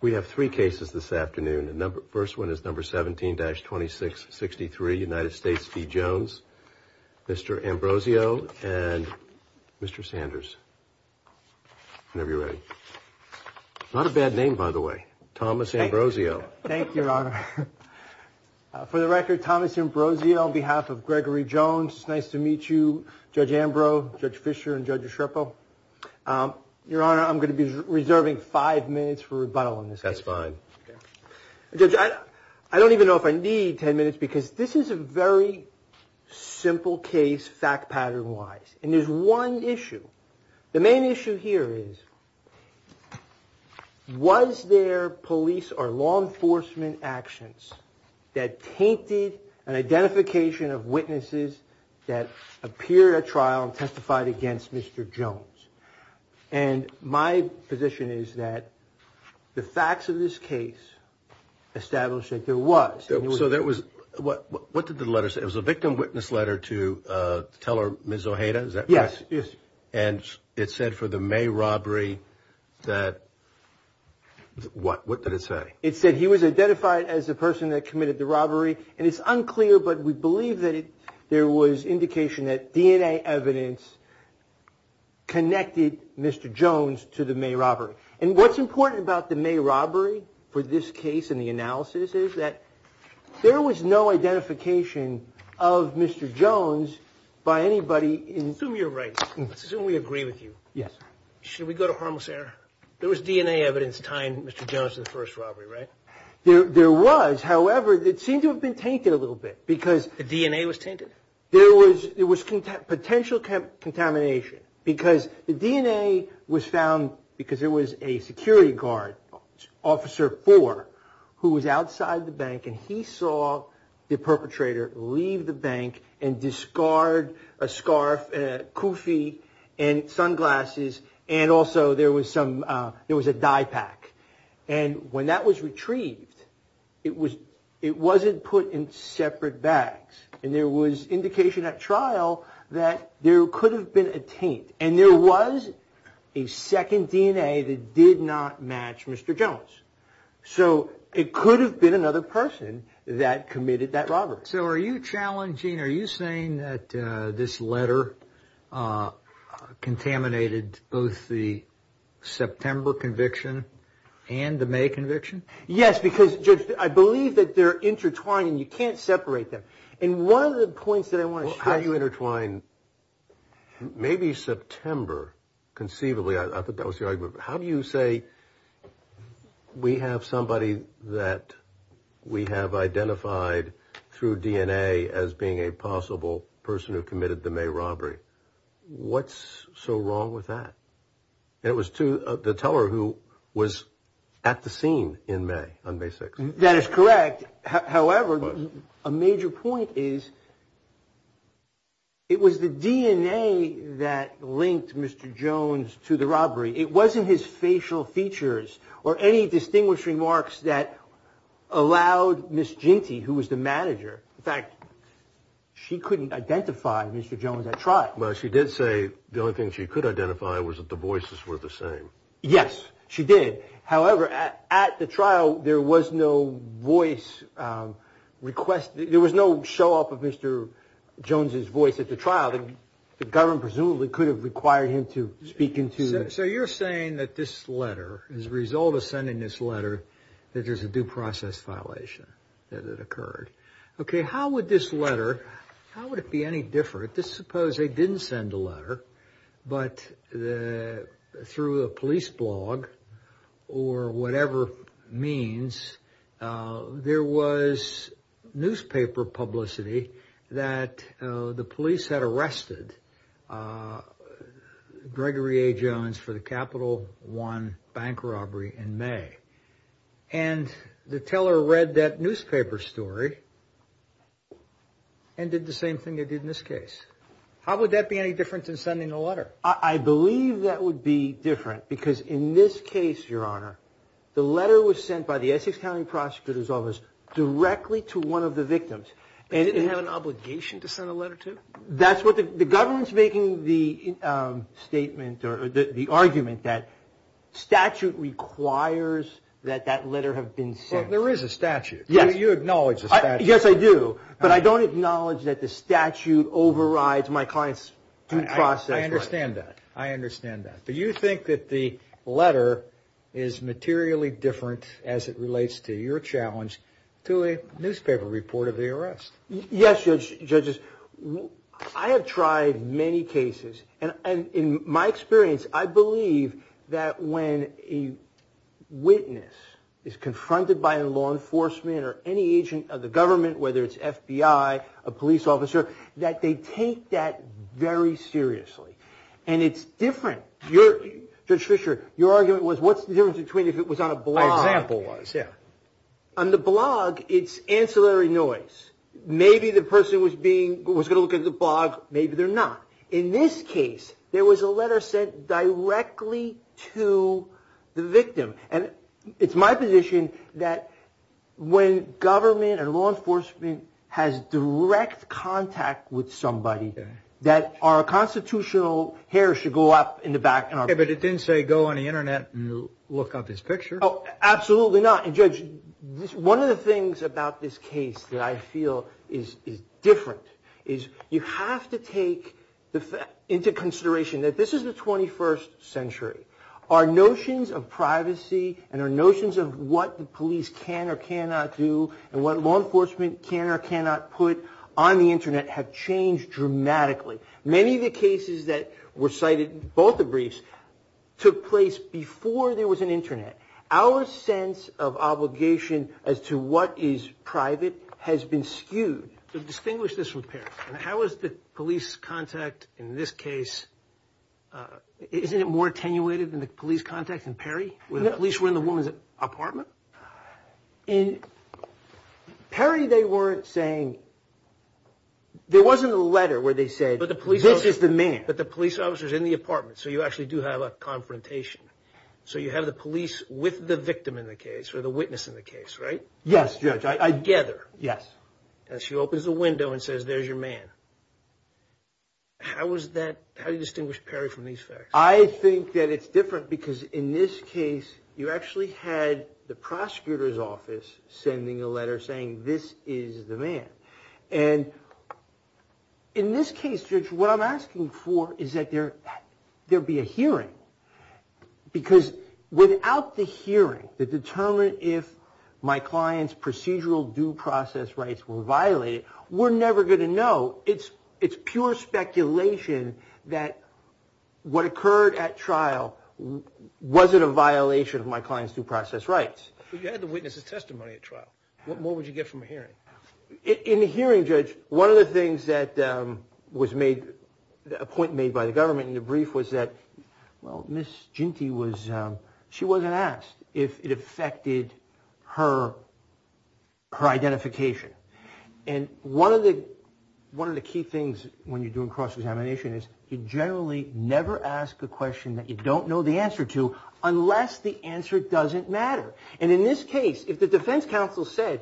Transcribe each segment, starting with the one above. We have three cases this afternoon. The first one is number 17-2663, United States v. Jones. Mr. Ambrosio and Mr. Sanders. Whenever you're ready. Not a bad name, by the way. Thomas Ambrosio. Thank you, Your Honor. For the record, Thomas Ambrosio on behalf of Gregory Jones. It's nice to meet you, Judge Ambro, Judge Fisher, and Judge Escherpo. Your Honor, I'm going to be rebuttal on this case. That's fine. Judge, I don't even know if I need 10 minutes because this is a very simple case, fact pattern-wise, and there's one issue. The main issue here is, was there police or law enforcement actions that tainted an identification of witnesses that appeared at trial and testified against Mr. Jones? And my position is that the facts of this case establish that there was. So there was, what did the letter say? It was a victim witness letter to teller Ms. Ojeda, is that correct? Yes, yes. And it said for the May robbery that, what did it say? It said he was identified as the person that committed the robbery, and it's unclear, but we believe that there was indication that DNA evidence connected Mr. Jones to the May robbery. And what's important about the May robbery for this case and the analysis is that there was no identification of Mr. Jones by anybody in... Assume you're right. Assume we agree with you. Yes. Should we go to harmless error? There was DNA evidence tying Mr. Jones to the first robbery, right? There was, however, it seemed to have been tainted a little bit because... The DNA was tainted? There was, it was potential contamination because the DNA was found because there was a security guard, Officer Four, who was outside the bank and he saw the perpetrator leave the bank and discard a scarf, a kufi, and sunglasses, and also there was a dye pack. And when that was retrieved, it wasn't put in separate bags, and there was indication at trial that there could have been a taint, and there was a second DNA that did not match Mr. Jones. So it could have been another person that committed that robbery. So are you challenging, are you saying that this letter contaminated both the September conviction and the May conviction? Yes, because, Judge, I believe that they're intertwined and you can't separate them. And one of the points that I want to share... Well, how do you intertwine maybe September? Conceivably, I thought that was the argument, but how do you say we have somebody that we have identified through DNA as being a possible person who committed the May robbery? What's so wrong with that? It was the teller who was at the scene in May, on May 6th. That is correct. However, a major point is it was the DNA that linked Mr. Jones to the robbery. It wasn't his facial features or any distinguished remarks that allowed Ms. Jinty, who was the manager... In fact, she couldn't identify Mr. Jones at trial. Well, she did say the only thing she could identify was that the voices were the same. Yes, she did. However, at the trial, there was no voice request. There was no show up of Mr. Jones's voice at the trial. The government presumably could have required him to speak So you're saying that this letter, as a result of sending this letter, that there's a due process violation that had occurred. Okay, how would this letter, how would it be any different? Suppose they didn't send a letter, but through a police blog or whatever means, there was newspaper publicity that the police had arrested Gregory A. Jones for the Capital One bank robbery in May. And the teller read that newspaper story and did the same thing they did in this case. How would that be any different than sending a letter? I believe that would be different because in this case, Your Honor, the letter was sent by the Essex County Prosecutor's Office directly to one of the victims. They didn't have an obligation to send a letter to? That's what the government's making the argument that statute requires that that letter have been sent. There is a statute. You acknowledge the statute. Yes, I do. But I don't acknowledge that the statute overrides my client's due process. I understand that. I understand that. But you think that the letter is materially different as it relates to your challenge to a newspaper report of the arrest? Yes, Judge. Judges, I have tried many cases. And in my experience, I believe that when a witness is confronted by law enforcement or any agent of the government, whether it's FBI, a police officer, that they take that very seriously. And it's different. Judge Fisher, your argument was what's the difference between if it was on a blog? My example was, yeah. On the blog, it's ancillary noise. Maybe the person was being, was going to look at the blog. Maybe they're not. In this case, there was a letter sent directly to the victim. And it's my position that when government and law enforcement has direct contact with somebody that our constitutional hair should go up in the air. But it didn't say go on the internet and look up this picture. Absolutely not. And Judge, one of the things about this case that I feel is different is you have to take into consideration that this is the 21st century. Our notions of privacy and our notions of what the police can or cannot do and what law enforcement can or cannot put on the internet have changed dramatically. Many of the cases that were cited, both the briefs, took place before there was an internet. Our sense of obligation as to what is private has been skewed. Distinguish this with Perry. How is the police contact in this case, isn't it more attenuated than the police contact in Perry where the police were in the woman's apartment? In Perry, they weren't saying, there wasn't a letter where they said, this is the man. But the police officer's in the apartment, so you actually do have a confrontation. So you have the police with the victim in the case or the witness in the case, right? Yes, Judge. Together. Yes. And she opens the window and says, there's your man. How do you distinguish Perry from these facts? I think that it's different because in this case, you actually had the prosecutor's office sending a letter saying, this is the man. And in this case, Judge, what I'm asking for is that there be a hearing because without the hearing to determine if my client's procedural due process rights were violated, we're never going to know. It's pure speculation that what occurred at trial wasn't a violation of my client's due process rights. But you had the witness's testimony at trial. What more would you get from a hearing? In the hearing, Judge, one of the things that was made, a point made by the government in the brief was that, well, Ms. Ginty was, she wasn't asked if it affected her identification. And one of the key things when you're doing cross-examination is you generally never ask a question that you don't know the answer to and in this case, if the defense counsel said,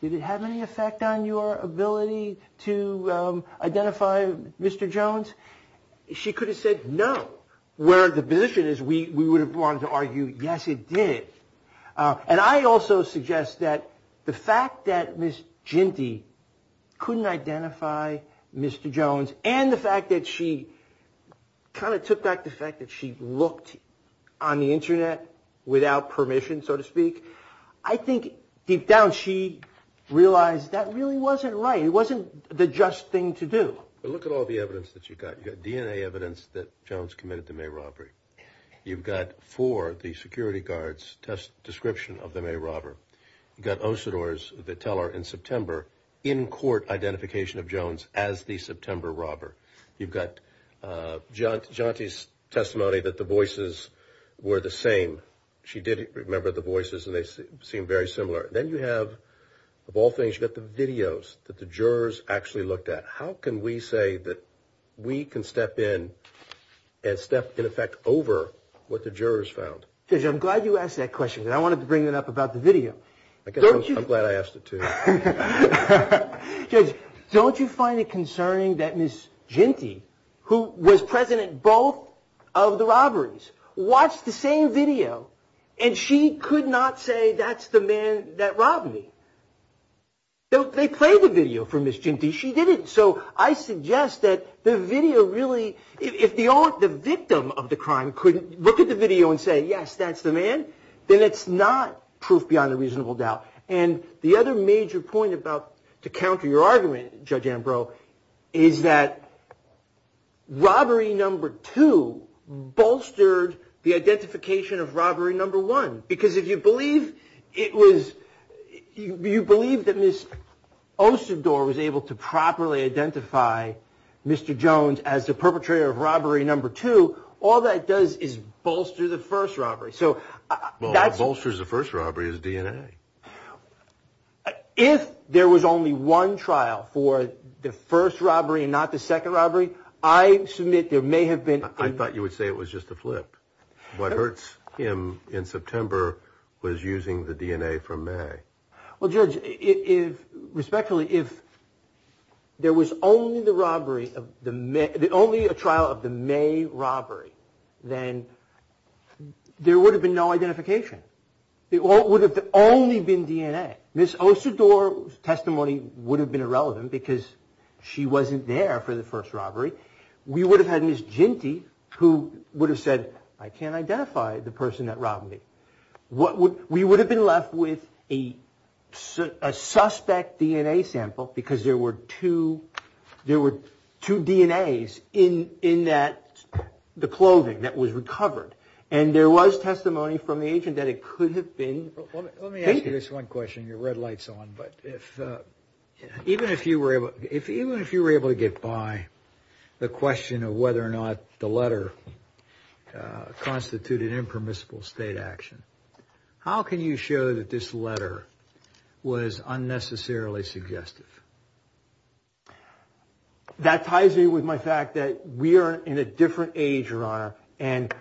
did it have any effect on your ability to identify Mr. Jones? She could have said no, where the position is we would have wanted to argue, yes, it did. And I also suggest that the fact that Ms. Ginty couldn't identify Mr. Jones and the fact that she kind of took back the fact that she looked on the internet without permission, so to speak, I think deep down she realized that really wasn't right. It wasn't the just thing to do. But look at all the evidence that you've got. You've got DNA evidence that Jones committed the May robbery. You've got four, the security guard's description of the May robbery. You've got the teller in September, in-court identification of Jones as the September robber. You've got Jonty's testimony that the voices were the same. She did remember the voices and they seemed very similar. Then you have, of all things, you've got the videos that the jurors actually looked at. How can we say that we can step in and step in effect over what the jurors found? Judge, I'm glad you asked that question because I wanted to bring it up about the video. I guess I'm glad I asked it too. Judge, don't you find it concerning that Ms. Ginty, who was present at both of the robberies, watched the same video and she could not say that's the man that robbed me? They played the video for Ms. Ginty. She didn't. So I suggest that the video really, if the victim of the crime couldn't look at the video and say, yes, that's the man, then it's not proof beyond a reasonable doubt. The other major point to counter your argument, Judge Ambrose, is that robbery number two bolstered the identification of robbery number one. Because if you believe it was, you believe that Ms. Osador was able to properly identify Mr. Jones as the perpetrator of robbery number two, all that does is bolster the first robbery. Well, what bolsters the first robbery is DNA. If there was only one trial for the first robbery and not the second robbery, I submit there may have been... I thought you would say it was just a flip. What hurts him in September was using the DNA from May. Well, Judge, respectfully, if there was only a trial of the May robbery, then there would have been no identification. It would have only been DNA. Ms. Osador's testimony would have been irrelevant because she wasn't there for the first robbery. We would have had Ms. Ginty who would have said, I can't identify the person that robbed me. We would have been left with a suspect DNA sample because there were two DNAs in the clothing that was recovered. And there was testimony from the agent that it could have been... Let me ask you this one question. Your red light's on. Even if you were able to get by the question of whether or not the letter constituted impermissible state action, how can you show that this letter was unnecessarily suggestive? That ties in with my fact that we are in a different age, Your Honor, and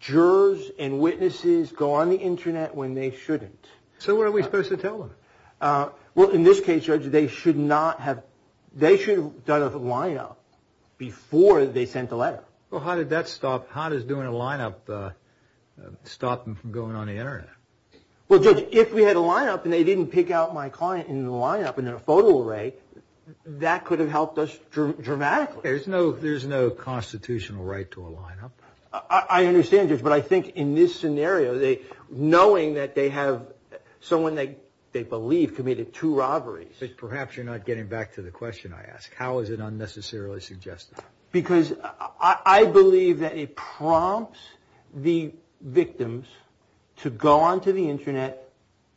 jurors and witnesses go on the internet when they shouldn't. So what are we supposed to tell them? Well, in this case, Judge, they should not have... They should have done a lineup before they sent the letter. Well, how did that stop... How does doing a lineup stop them from going on the internet? Well, Judge, if we had a lineup and they didn't pick out my client in the lineup and in a photo array, that could have helped us dramatically. There's no constitutional right to a lineup. I understand, Judge, but I think in this scenario, knowing that they have someone they believe committed two robberies... Perhaps you're not getting back to the question I asked. How is it unnecessarily suggestive? Because I believe that it prompts the victims to go onto the internet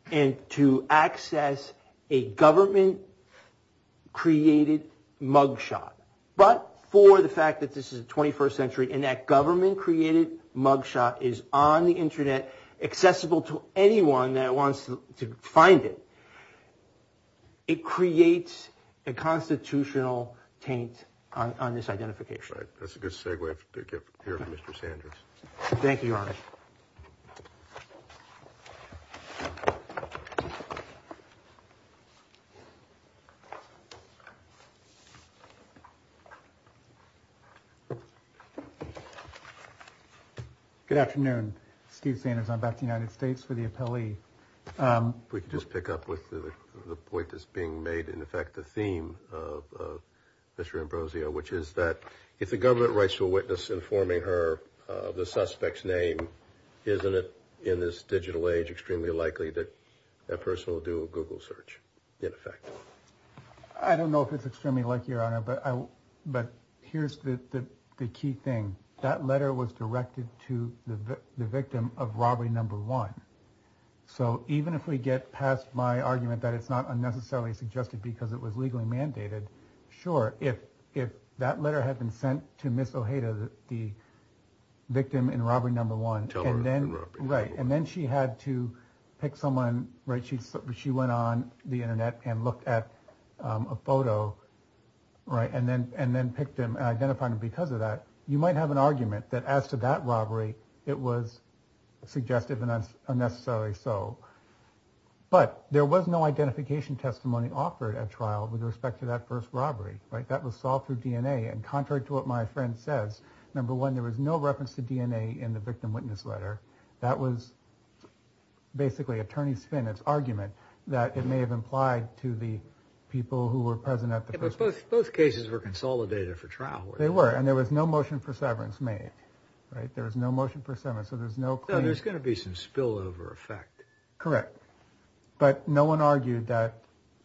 and to access a government-created mugshot. But for the fact that this is the 21st century and that government-created mugshot is on the internet, accessible to anyone that wants to find it, it creates a constitutional taint on this identification. Right. That's a good segue to get here from Mr. Sanders. Thank you, Your Honor. Good afternoon. Steve Sanders. I'm back to the United States for the appellee. If we could just pick up with the point that's being made, in effect, the theme of Mr. Ambrosio, which is that if the government writes to a witness informing her of the suspect's name, isn't it, in this digital age, extremely likely that that person will do a Google search, in effect? I don't know if it's extremely likely, Your Honor, but here's the key thing. That letter was directed to the victim of robbery number one. So even if we get past my argument that it's not unnecessarily suggested because it was legally mandated, sure, if that letter had been sent to Ms. Ojeda, the victim in robbery number one, and then she had to pick someone, right, she went on the internet and looked at a photo, right, and then picked him and identified him because of that, you might have an argument that as to that robbery, it was suggestive and unnecessary. So, but there was no identification testimony offered at trial with respect to that first robbery, right? That was solved through DNA. And contrary to what my friend says, number one, there was no reference to DNA in the victim witness letter. That was basically Attorney Spinnett's argument that it may have implied to the people who were present at the first. But both cases were consolidated for trial. They were, and there was no motion for severance made, right? There was no motion for severance. So there's no... No, there's going to be some spillover effect. Correct. But no one argued that,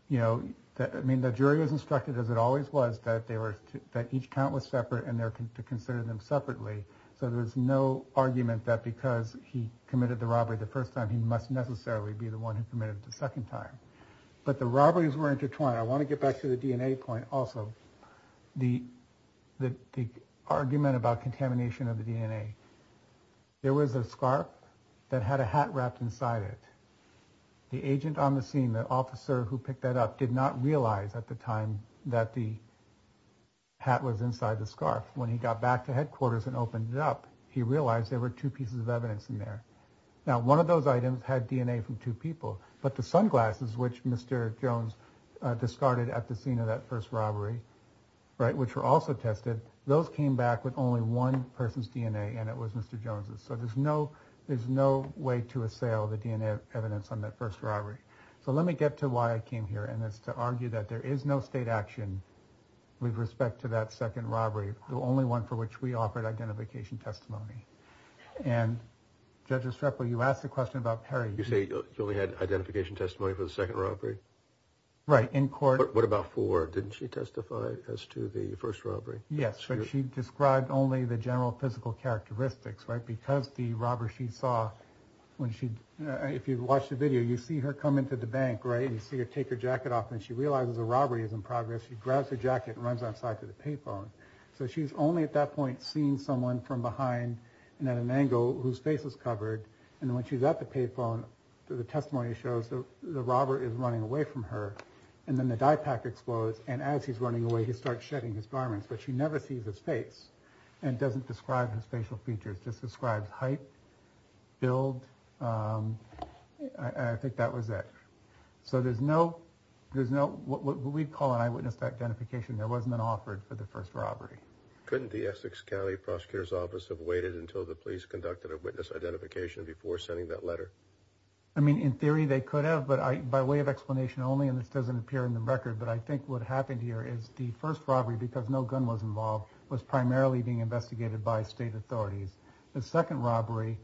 you know, that, I mean, the jury was instructed, as it always was, that they were, that each count was separate and they're to consider them separately. So there's no argument that because he committed the robbery the first time, he must necessarily be the one who committed the second time. But the robberies were intertwined. I want to get back to the DNA point also. The argument about contamination of the DNA. There was a scarf that had a hat wrapped inside it. The agent on the scene, the officer who picked that up, did not realize at the time that the hat was inside the scarf. When he got back to headquarters and opened it up, he realized there were two pieces of evidence in there. Now, one of those items had DNA from two people, but the sunglasses, which Mr. Jones discarded at the scene of that first robbery, right, which were also tested, those came back with only one person's DNA and it was Mr. Jones's. So there's no, there's no way to assail the DNA evidence on that first robbery. So let me get to why I came here. And that's to argue that there is no state action with respect to that second robbery, the only one for which we offered identification testimony. And Judge Estrepo, you asked a question about Perry. You say she only had identification testimony for the second robbery? Right, in court. What about Ford? Didn't she testify as to the first robbery? Yes, but she described only the general physical characteristics, right? Because the robber she saw, when she, if you watch the video, you see her come into the bank, right? And you see her take her jacket off and she realizes the robbery is in progress. She grabs her jacket and runs outside to the payphone. So she's only at that point, seeing someone from behind and at an angle whose face is covered. And when she's at the payphone, the testimony shows that the robber is running away from her. And then the dye pack explodes. And as he's running away, he starts shedding his garments. But she never sees his face and doesn't describe his facial features, just describes height, build. I think that was it. So there's no, there's no, what we'd call an eyewitness identification. There wasn't an offered for the first robbery. Couldn't the Essex County Prosecutor's Office have waited until the police conducted a witness identification before sending that letter? I mean, in theory, they could have, by way of explanation only. And this doesn't appear in the record, but I think what happened here is the first robbery, because no gun was involved, was primarily being investigated by state authorities. The second robbery,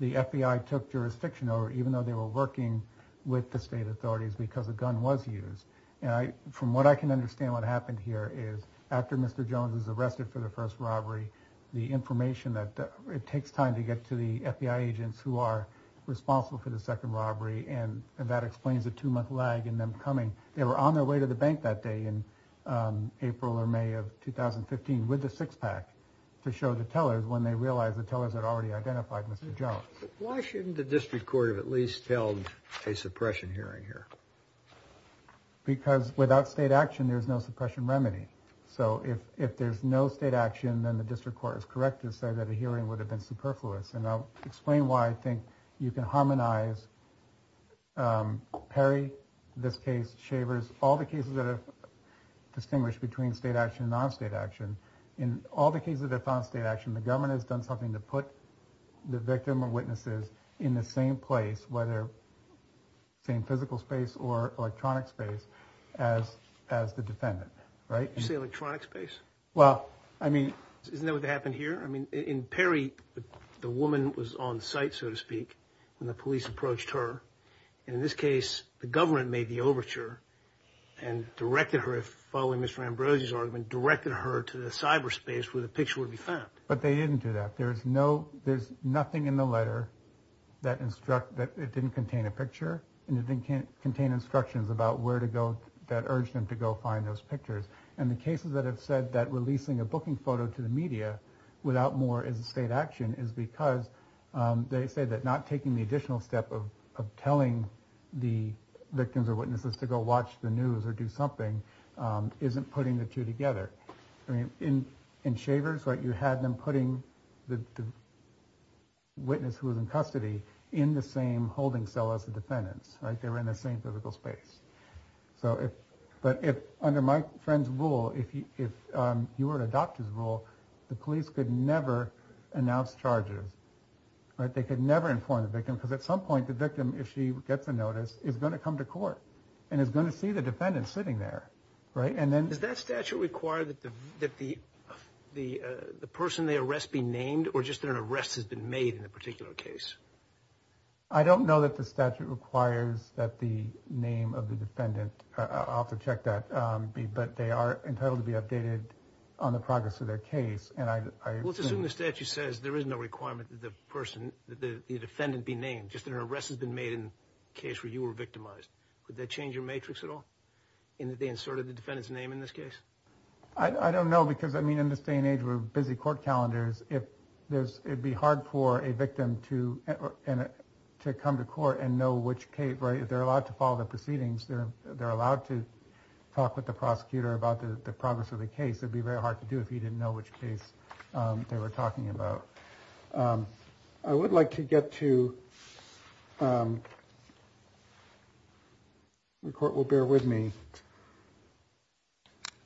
the FBI took jurisdiction over, even though they were working with the state authorities, because a gun was used. And I, from what I can understand, what happened here is, after Mr. Jones was arrested for the first robbery, the information that it takes time to get to the FBI agents who are responsible for the second robbery. And that explains the two-month lag in them coming. They were on their way to the bank that day in April or May of 2015 with the six-pack to show the tellers when they realized the tellers had already identified Mr. Jones. Why shouldn't the district court have at least held a suppression hearing here? Because without state action, there's no suppression remedy. So if there's no state action, then the district court is correct to say that a hearing would have been superfluous. And I'll explain why I think you can harmonize Perry, this case, Shavers, all the cases that are distinguished between state action and non-state action. In all the cases that found state action, the government has done something to put the victim or witnesses in the same place, whether same physical space or electronic space, as the defendant, right? You say electronic space? Well, I mean... Isn't that what happened here? I mean, in Perry, the woman was on site, so to speak, when the police approached her. And in this case, the government made the overture and directed her, following Mr. Ambrosio's argument, directed her to the cyberspace where the picture would be found. But they didn't do that. There's no... There's nothing in the letter that instruct... That it didn't contain a picture and it didn't contain instructions about where to go that urged them to go find those pictures. And the cases that have said that releasing a booking photo to the media without more as a state action is because they say that not taking the additional step of telling the victims or witnesses to go watch the news or do something isn't putting the two together. I mean, in Shavers, you had them putting the witness who was in custody in the same holding cell as the defendants, right? They were in the same physical space. But if under my friend's rule, if you were to adopt his rule, the police could never announce charges, right? They could never inform the victim because at some point the victim, if she gets a notice, is going to come to court and is going to see the defendant sitting there, right? And then... Does that statute require that the person they arrest be named or just that an arrest has been made in a particular case? I don't know that the statute requires that the name of the defendant... I'll have to check that. But they are entitled to be updated on the progress of their case. And I assume... Let's assume the statute says there is no requirement that the person, the defendant be named, just that an arrest has been made in a case where you were victimized. Would that change your matrix at all? In that they inserted the defendant's name in this case? I don't know because, I mean, in this day and age, we're busy court calendars. If there's... It'd be hard for a victim to come to court and know which case, right? If they're allowed to follow the proceedings, they're allowed to talk with the prosecutor about the progress of the case. It'd be very hard to do if he didn't know which case they were talking about. I would like to get to... The court will bear with me.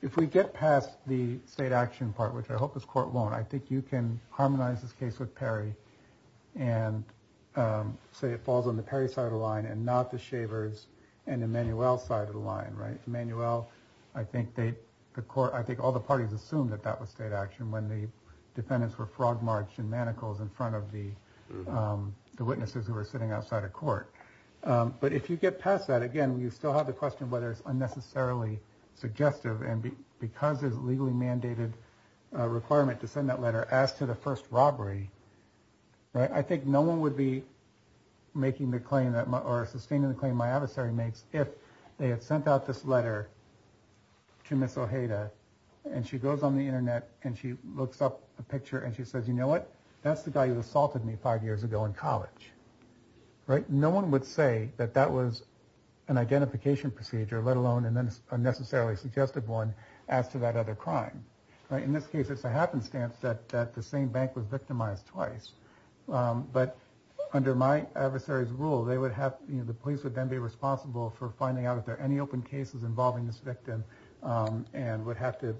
If we get past the state action part, which I hope this court won't, I think you can harmonize this case with Perry and say it falls on the Perry side of the line and not the Shavers and Emmanuelle side of the line, right? Emmanuelle, I think the court... I think all the parties assumed that that was state action when the defendants were frog-marched in manacles in front of the witnesses who were sitting outside of court. But if you get past that, again, you still have the question whether it's unnecessarily suggestive and because there's a legally mandated requirement to send that letter as to the first robbery, right? No one would be sustaining the claim my adversary makes if they had sent out this letter to Ms. Ojeda and she goes on the internet and she looks up a picture and she says, you know what? That's the guy who assaulted me five years ago in college, right? No one would say that that was an identification procedure, let alone a necessarily suggestive one as to that other crime, right? In this case, it's a happenstance that the same bank was victimized twice. But under my adversary's rule, they would have... the police would then be responsible for finding out if there are any open cases involving this victim and would have to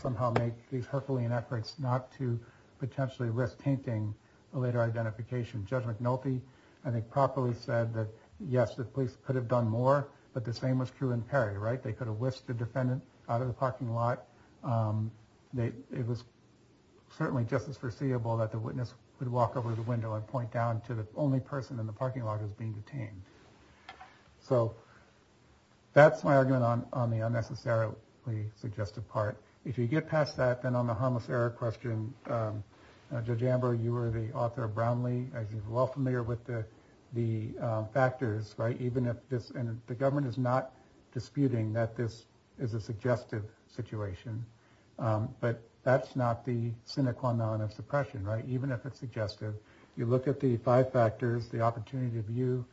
somehow make these Herculean efforts not to potentially risk tainting a later identification. Judge McNulty, I think, properly said that yes, the police could have done more, but the same was true in Perry, right? They could have whisked the defendant out of the parking lot. It was certainly just as foreseeable that the witness would walk over the window and point down to the only person in the parking lot who's being detained. So that's my argument on the unnecessarily suggestive part. If you get past that, then on the harmless error question, Judge Amber, you were the author of Brownlee, as you're well familiar with the factors, right? Even if this... and the government is not disputing that this is a suggestive situation, but that's not the cynical amount of suppression, right? Even if it's suggestive, you look at the five factors, the opportunity of view,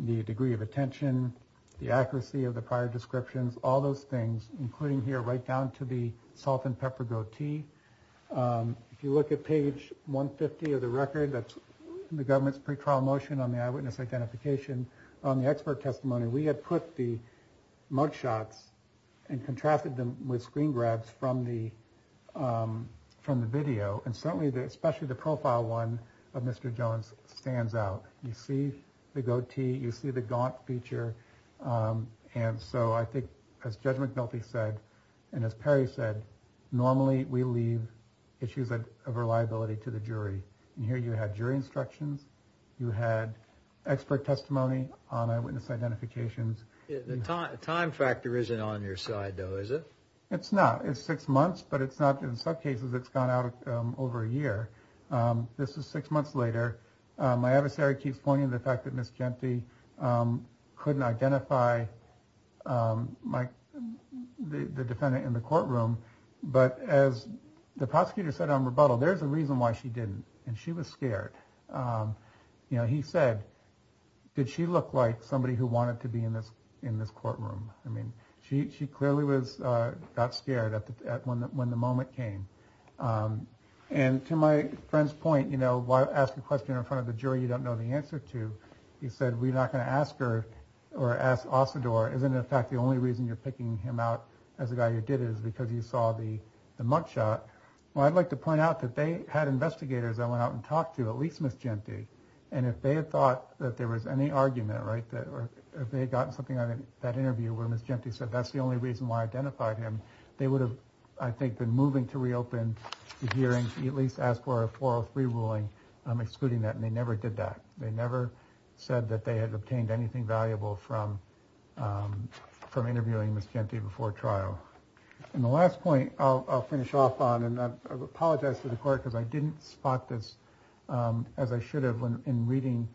the degree of attention, the accuracy of the prior descriptions, all those things, including here right down to the salt and pepper goatee. If you look at page 150 of the record, that's the government's pretrial motion on the eyewitness identification. On the expert testimony, we had put the mugshots and contrasted them with screen grabs from the video. And certainly, especially the profile one of Mr. Jones stands out. You see the goatee, you see the gaunt feature. And so I think, as Judge McNulty said, and as Perry said, normally we leave issues of reliability to the jury. And here you had jury instructions, you had expert testimony on eyewitness identifications. The time factor isn't on your side, though, is it? It's not. It's six months, but it's not in some cases it's gone out over a year. This is six months later. My adversary keeps pointing to the fact that Ms. Gente couldn't identify the defendant in the courtroom. But as the prosecutor said on rebuttal, there's a reason why she didn't, and she was scared. You know, he said, did she look like somebody who wanted to be in this courtroom? I mean, she clearly got scared when the moment came. And to my friend's point, you know, why ask a question in front of the jury you don't know the answer to? He said, we're not going to ask her or ask Ossador. Isn't it a fact the only reason you're picking him out as a guy who did it is because you saw the mugshot? Well, I'd like to point out that they had investigators that went out and talked to at least Ms. Gente. And if they had thought that there was any argument, right, that they had gotten something out of that interview where Ms. Gente said that's the only reason why I identified him, they would have, I think, been moving to reopen the hearing to at least ask for a 403 ruling, excluding that. And they never did that. They never said that they had obtained anything valuable from interviewing Ms. Gente before trial. And the last point I'll finish off on, and I apologize to the court because I didn't spot this as I should have in reading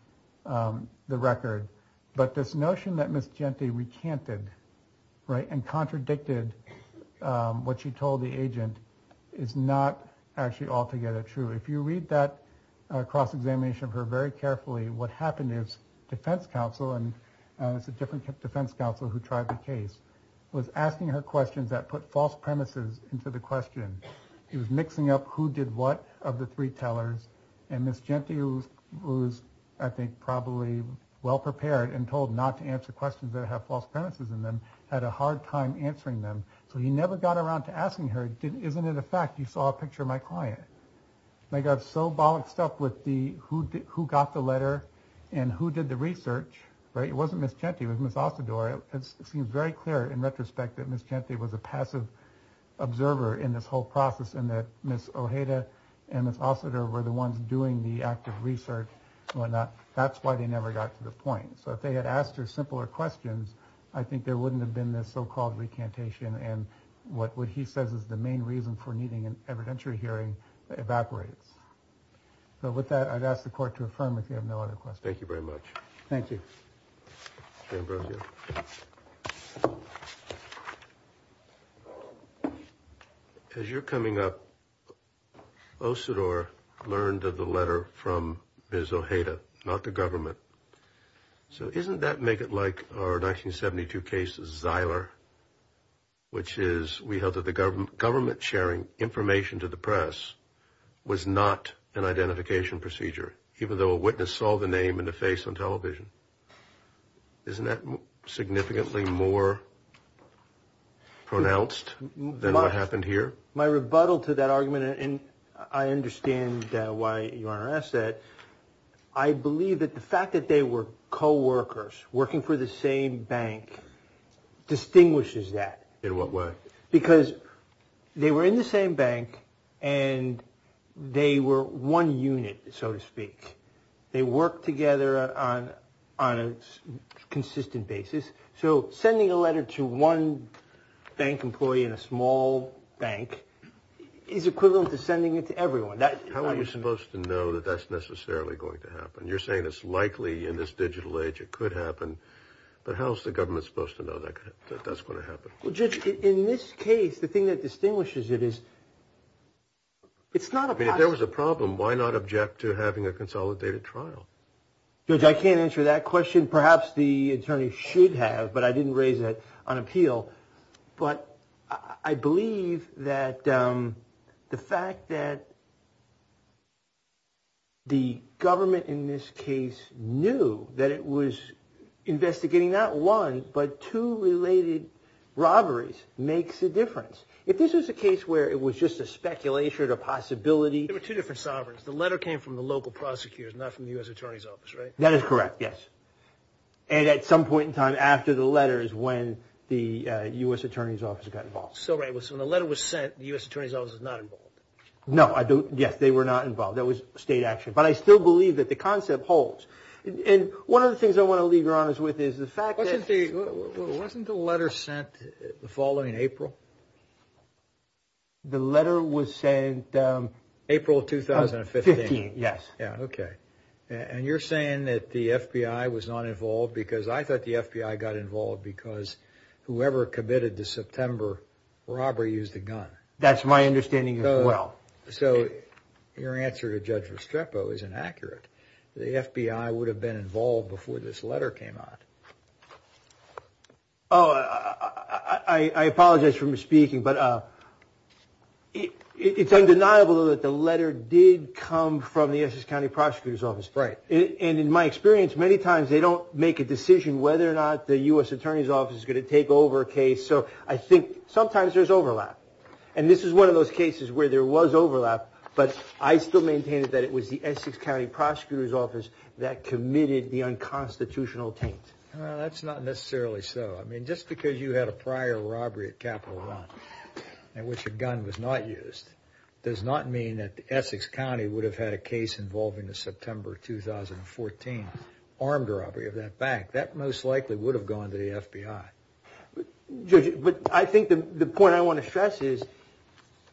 the record. But this notion that Ms. Gente recanted, right, and contradicted what she told the agent is not actually altogether true. If you read that cross-examination of her very carefully, what happened is defense counsel, and it's a different defense counsel who tried the case, was asking her questions that put false premises into the question. He was mixing up who did what of the three tellers, and Ms. Gente, who was, I think, probably well-prepared and told not to answer questions that have false premises in them, had a hard time answering them. So he never got around to asking her, isn't it a fact you saw a picture of my client? They got so bollocked stuff with who got the letter and who did the research, right? It wasn't Ms. Gente, it was Ms. Asador. It seems very clear in retrospect that Ms. Gente was a passive observer in this whole process, and that Ms. Ojeda and Ms. Asador were the ones doing the active research and whatnot. That's why they never got to the point. So if they had asked her simpler questions, I think there wouldn't have been this so-called recantation. And what he says is the main reason for needing an evidentiary hearing evaporates. So with that, I'd ask the court to affirm if you have no other questions. Thank you very much. Thank you. As you're coming up, Asador learned of the letter from Ms. Ojeda, not the government. So isn't that make it like our 1972 case of Zyler, which is we held that the government sharing information to the press was not an identification procedure, even though a witness saw the name and the face on television. Isn't that significantly more pronounced than what happened here? My rebuttal to that argument, and I understand why you want to ask that. I believe that the fact that they were co-workers working for the same bank distinguishes that. In what way? Because they were in the same bank and they were one unit, so to speak. They work together on a consistent basis. So sending a letter to one bank employee in a small bank is equivalent to sending it to everyone. How are you supposed to know that that's necessarily going to happen? You're saying it's likely in this digital age it could happen, but how is the government supposed to know that that's going to happen? Well, Judge, in this case, the thing that distinguishes it is it's not a problem. If there was a problem, why not object to having a consolidated trial? Judge, I can't answer that question. Perhaps the attorney should have, but I didn't raise it on appeal. But I believe that the fact that the government in this case knew that it was investigating not one but two related robberies makes a difference. If this was a case where it was just a speculation, a possibility... There were two different sovereigns. The letter came from the local prosecutors, not from the U.S. Attorney's Office, right? That is correct, yes. And at some point in time after the letters when the U.S. Attorney's Office got involved. So when the letter was sent, the U.S. Attorney's Office was not involved. No, yes, they were not involved. That was state action. But I still believe that the concept holds. And one of the things I want to leave your honors with is the fact that... Wasn't the letter sent the following April? The letter was sent... April of 2015. Yes. Yeah, okay. And you're saying that the FBI was not involved because I thought the FBI got involved because whoever committed the September robbery used a gun. That's my understanding as well. So your answer to Judge Restrepo is inaccurate. The FBI would have been involved before this letter came out. Oh, I apologize for misspeaking, but it's undeniable that the letter did come from the Essex County Prosecutor's Office. Right. And in my experience, many times they don't make a decision whether or not the U.S. Attorney's Office is going to take over a case. So I think sometimes there's overlap. And this is one of those cases where there was overlap, but I still maintained that it was the Essex County Prosecutor's Office that committed the unconstitutional taint. That's not necessarily so. I mean, just because you had a prior robbery at Capital One in which a gun was not used, does not mean that the Essex County would have had a case involving the September 2014 armed robbery of that bank. That most likely would have gone to the FBI. Judge, I think the point I want to stress is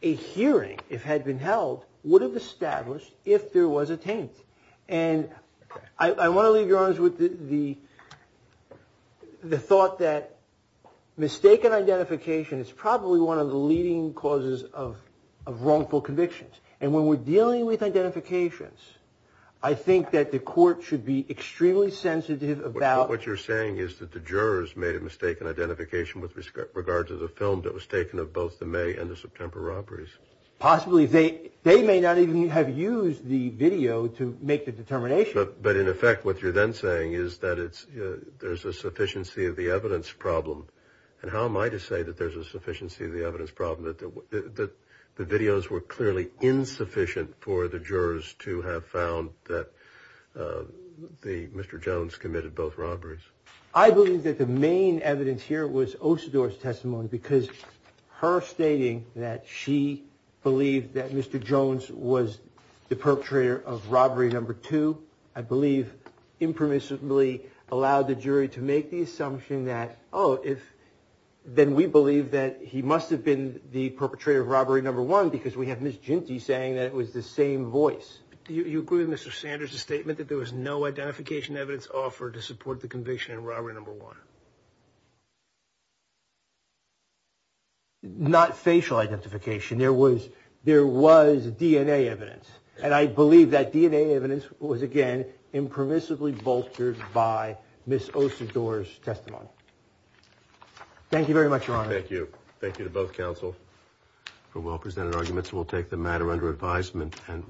a hearing, if had been held, would have established if there was a taint. And I want to leave your honors with the thought that mistaken identification is probably one of the leading causes of wrongful convictions. And when we're dealing with identifications, I think that the court should be extremely sensitive about... But what you're saying is that the jurors made a mistaken identification with regard to the film that was taken of both the May and the September robberies. Possibly. They may not even have used the video to make the determination. But in effect, what you're then saying is that there's a sufficiency of the evidence problem. And how am I to say that there's a sufficiency of the evidence problem, that the videos were clearly insufficient for the jurors to have found that Mr. Jones committed both robberies? I believe that the main evidence here was Osador's testimony, because her stating that she believed that Mr. Jones was the perpetrator of robbery number two, I believe impermissibly allowed the jury to make the assumption that, oh, then we believe that he must have been the perpetrator of robbery number one, because we have Ms. Jinty saying that it was the same voice. Do you agree with Mr. Sanders' statement that there was no identification evidence offered to support the conviction in robbery number one? Not facial identification. There was DNA evidence. And I believe that DNA evidence was, again, impermissibly vultured by Ms. Osador's testimony. Thank you very much, Your Honor. Thank you. Thank you to both counsel for well-presented arguments. We'll take the matter under advisement and...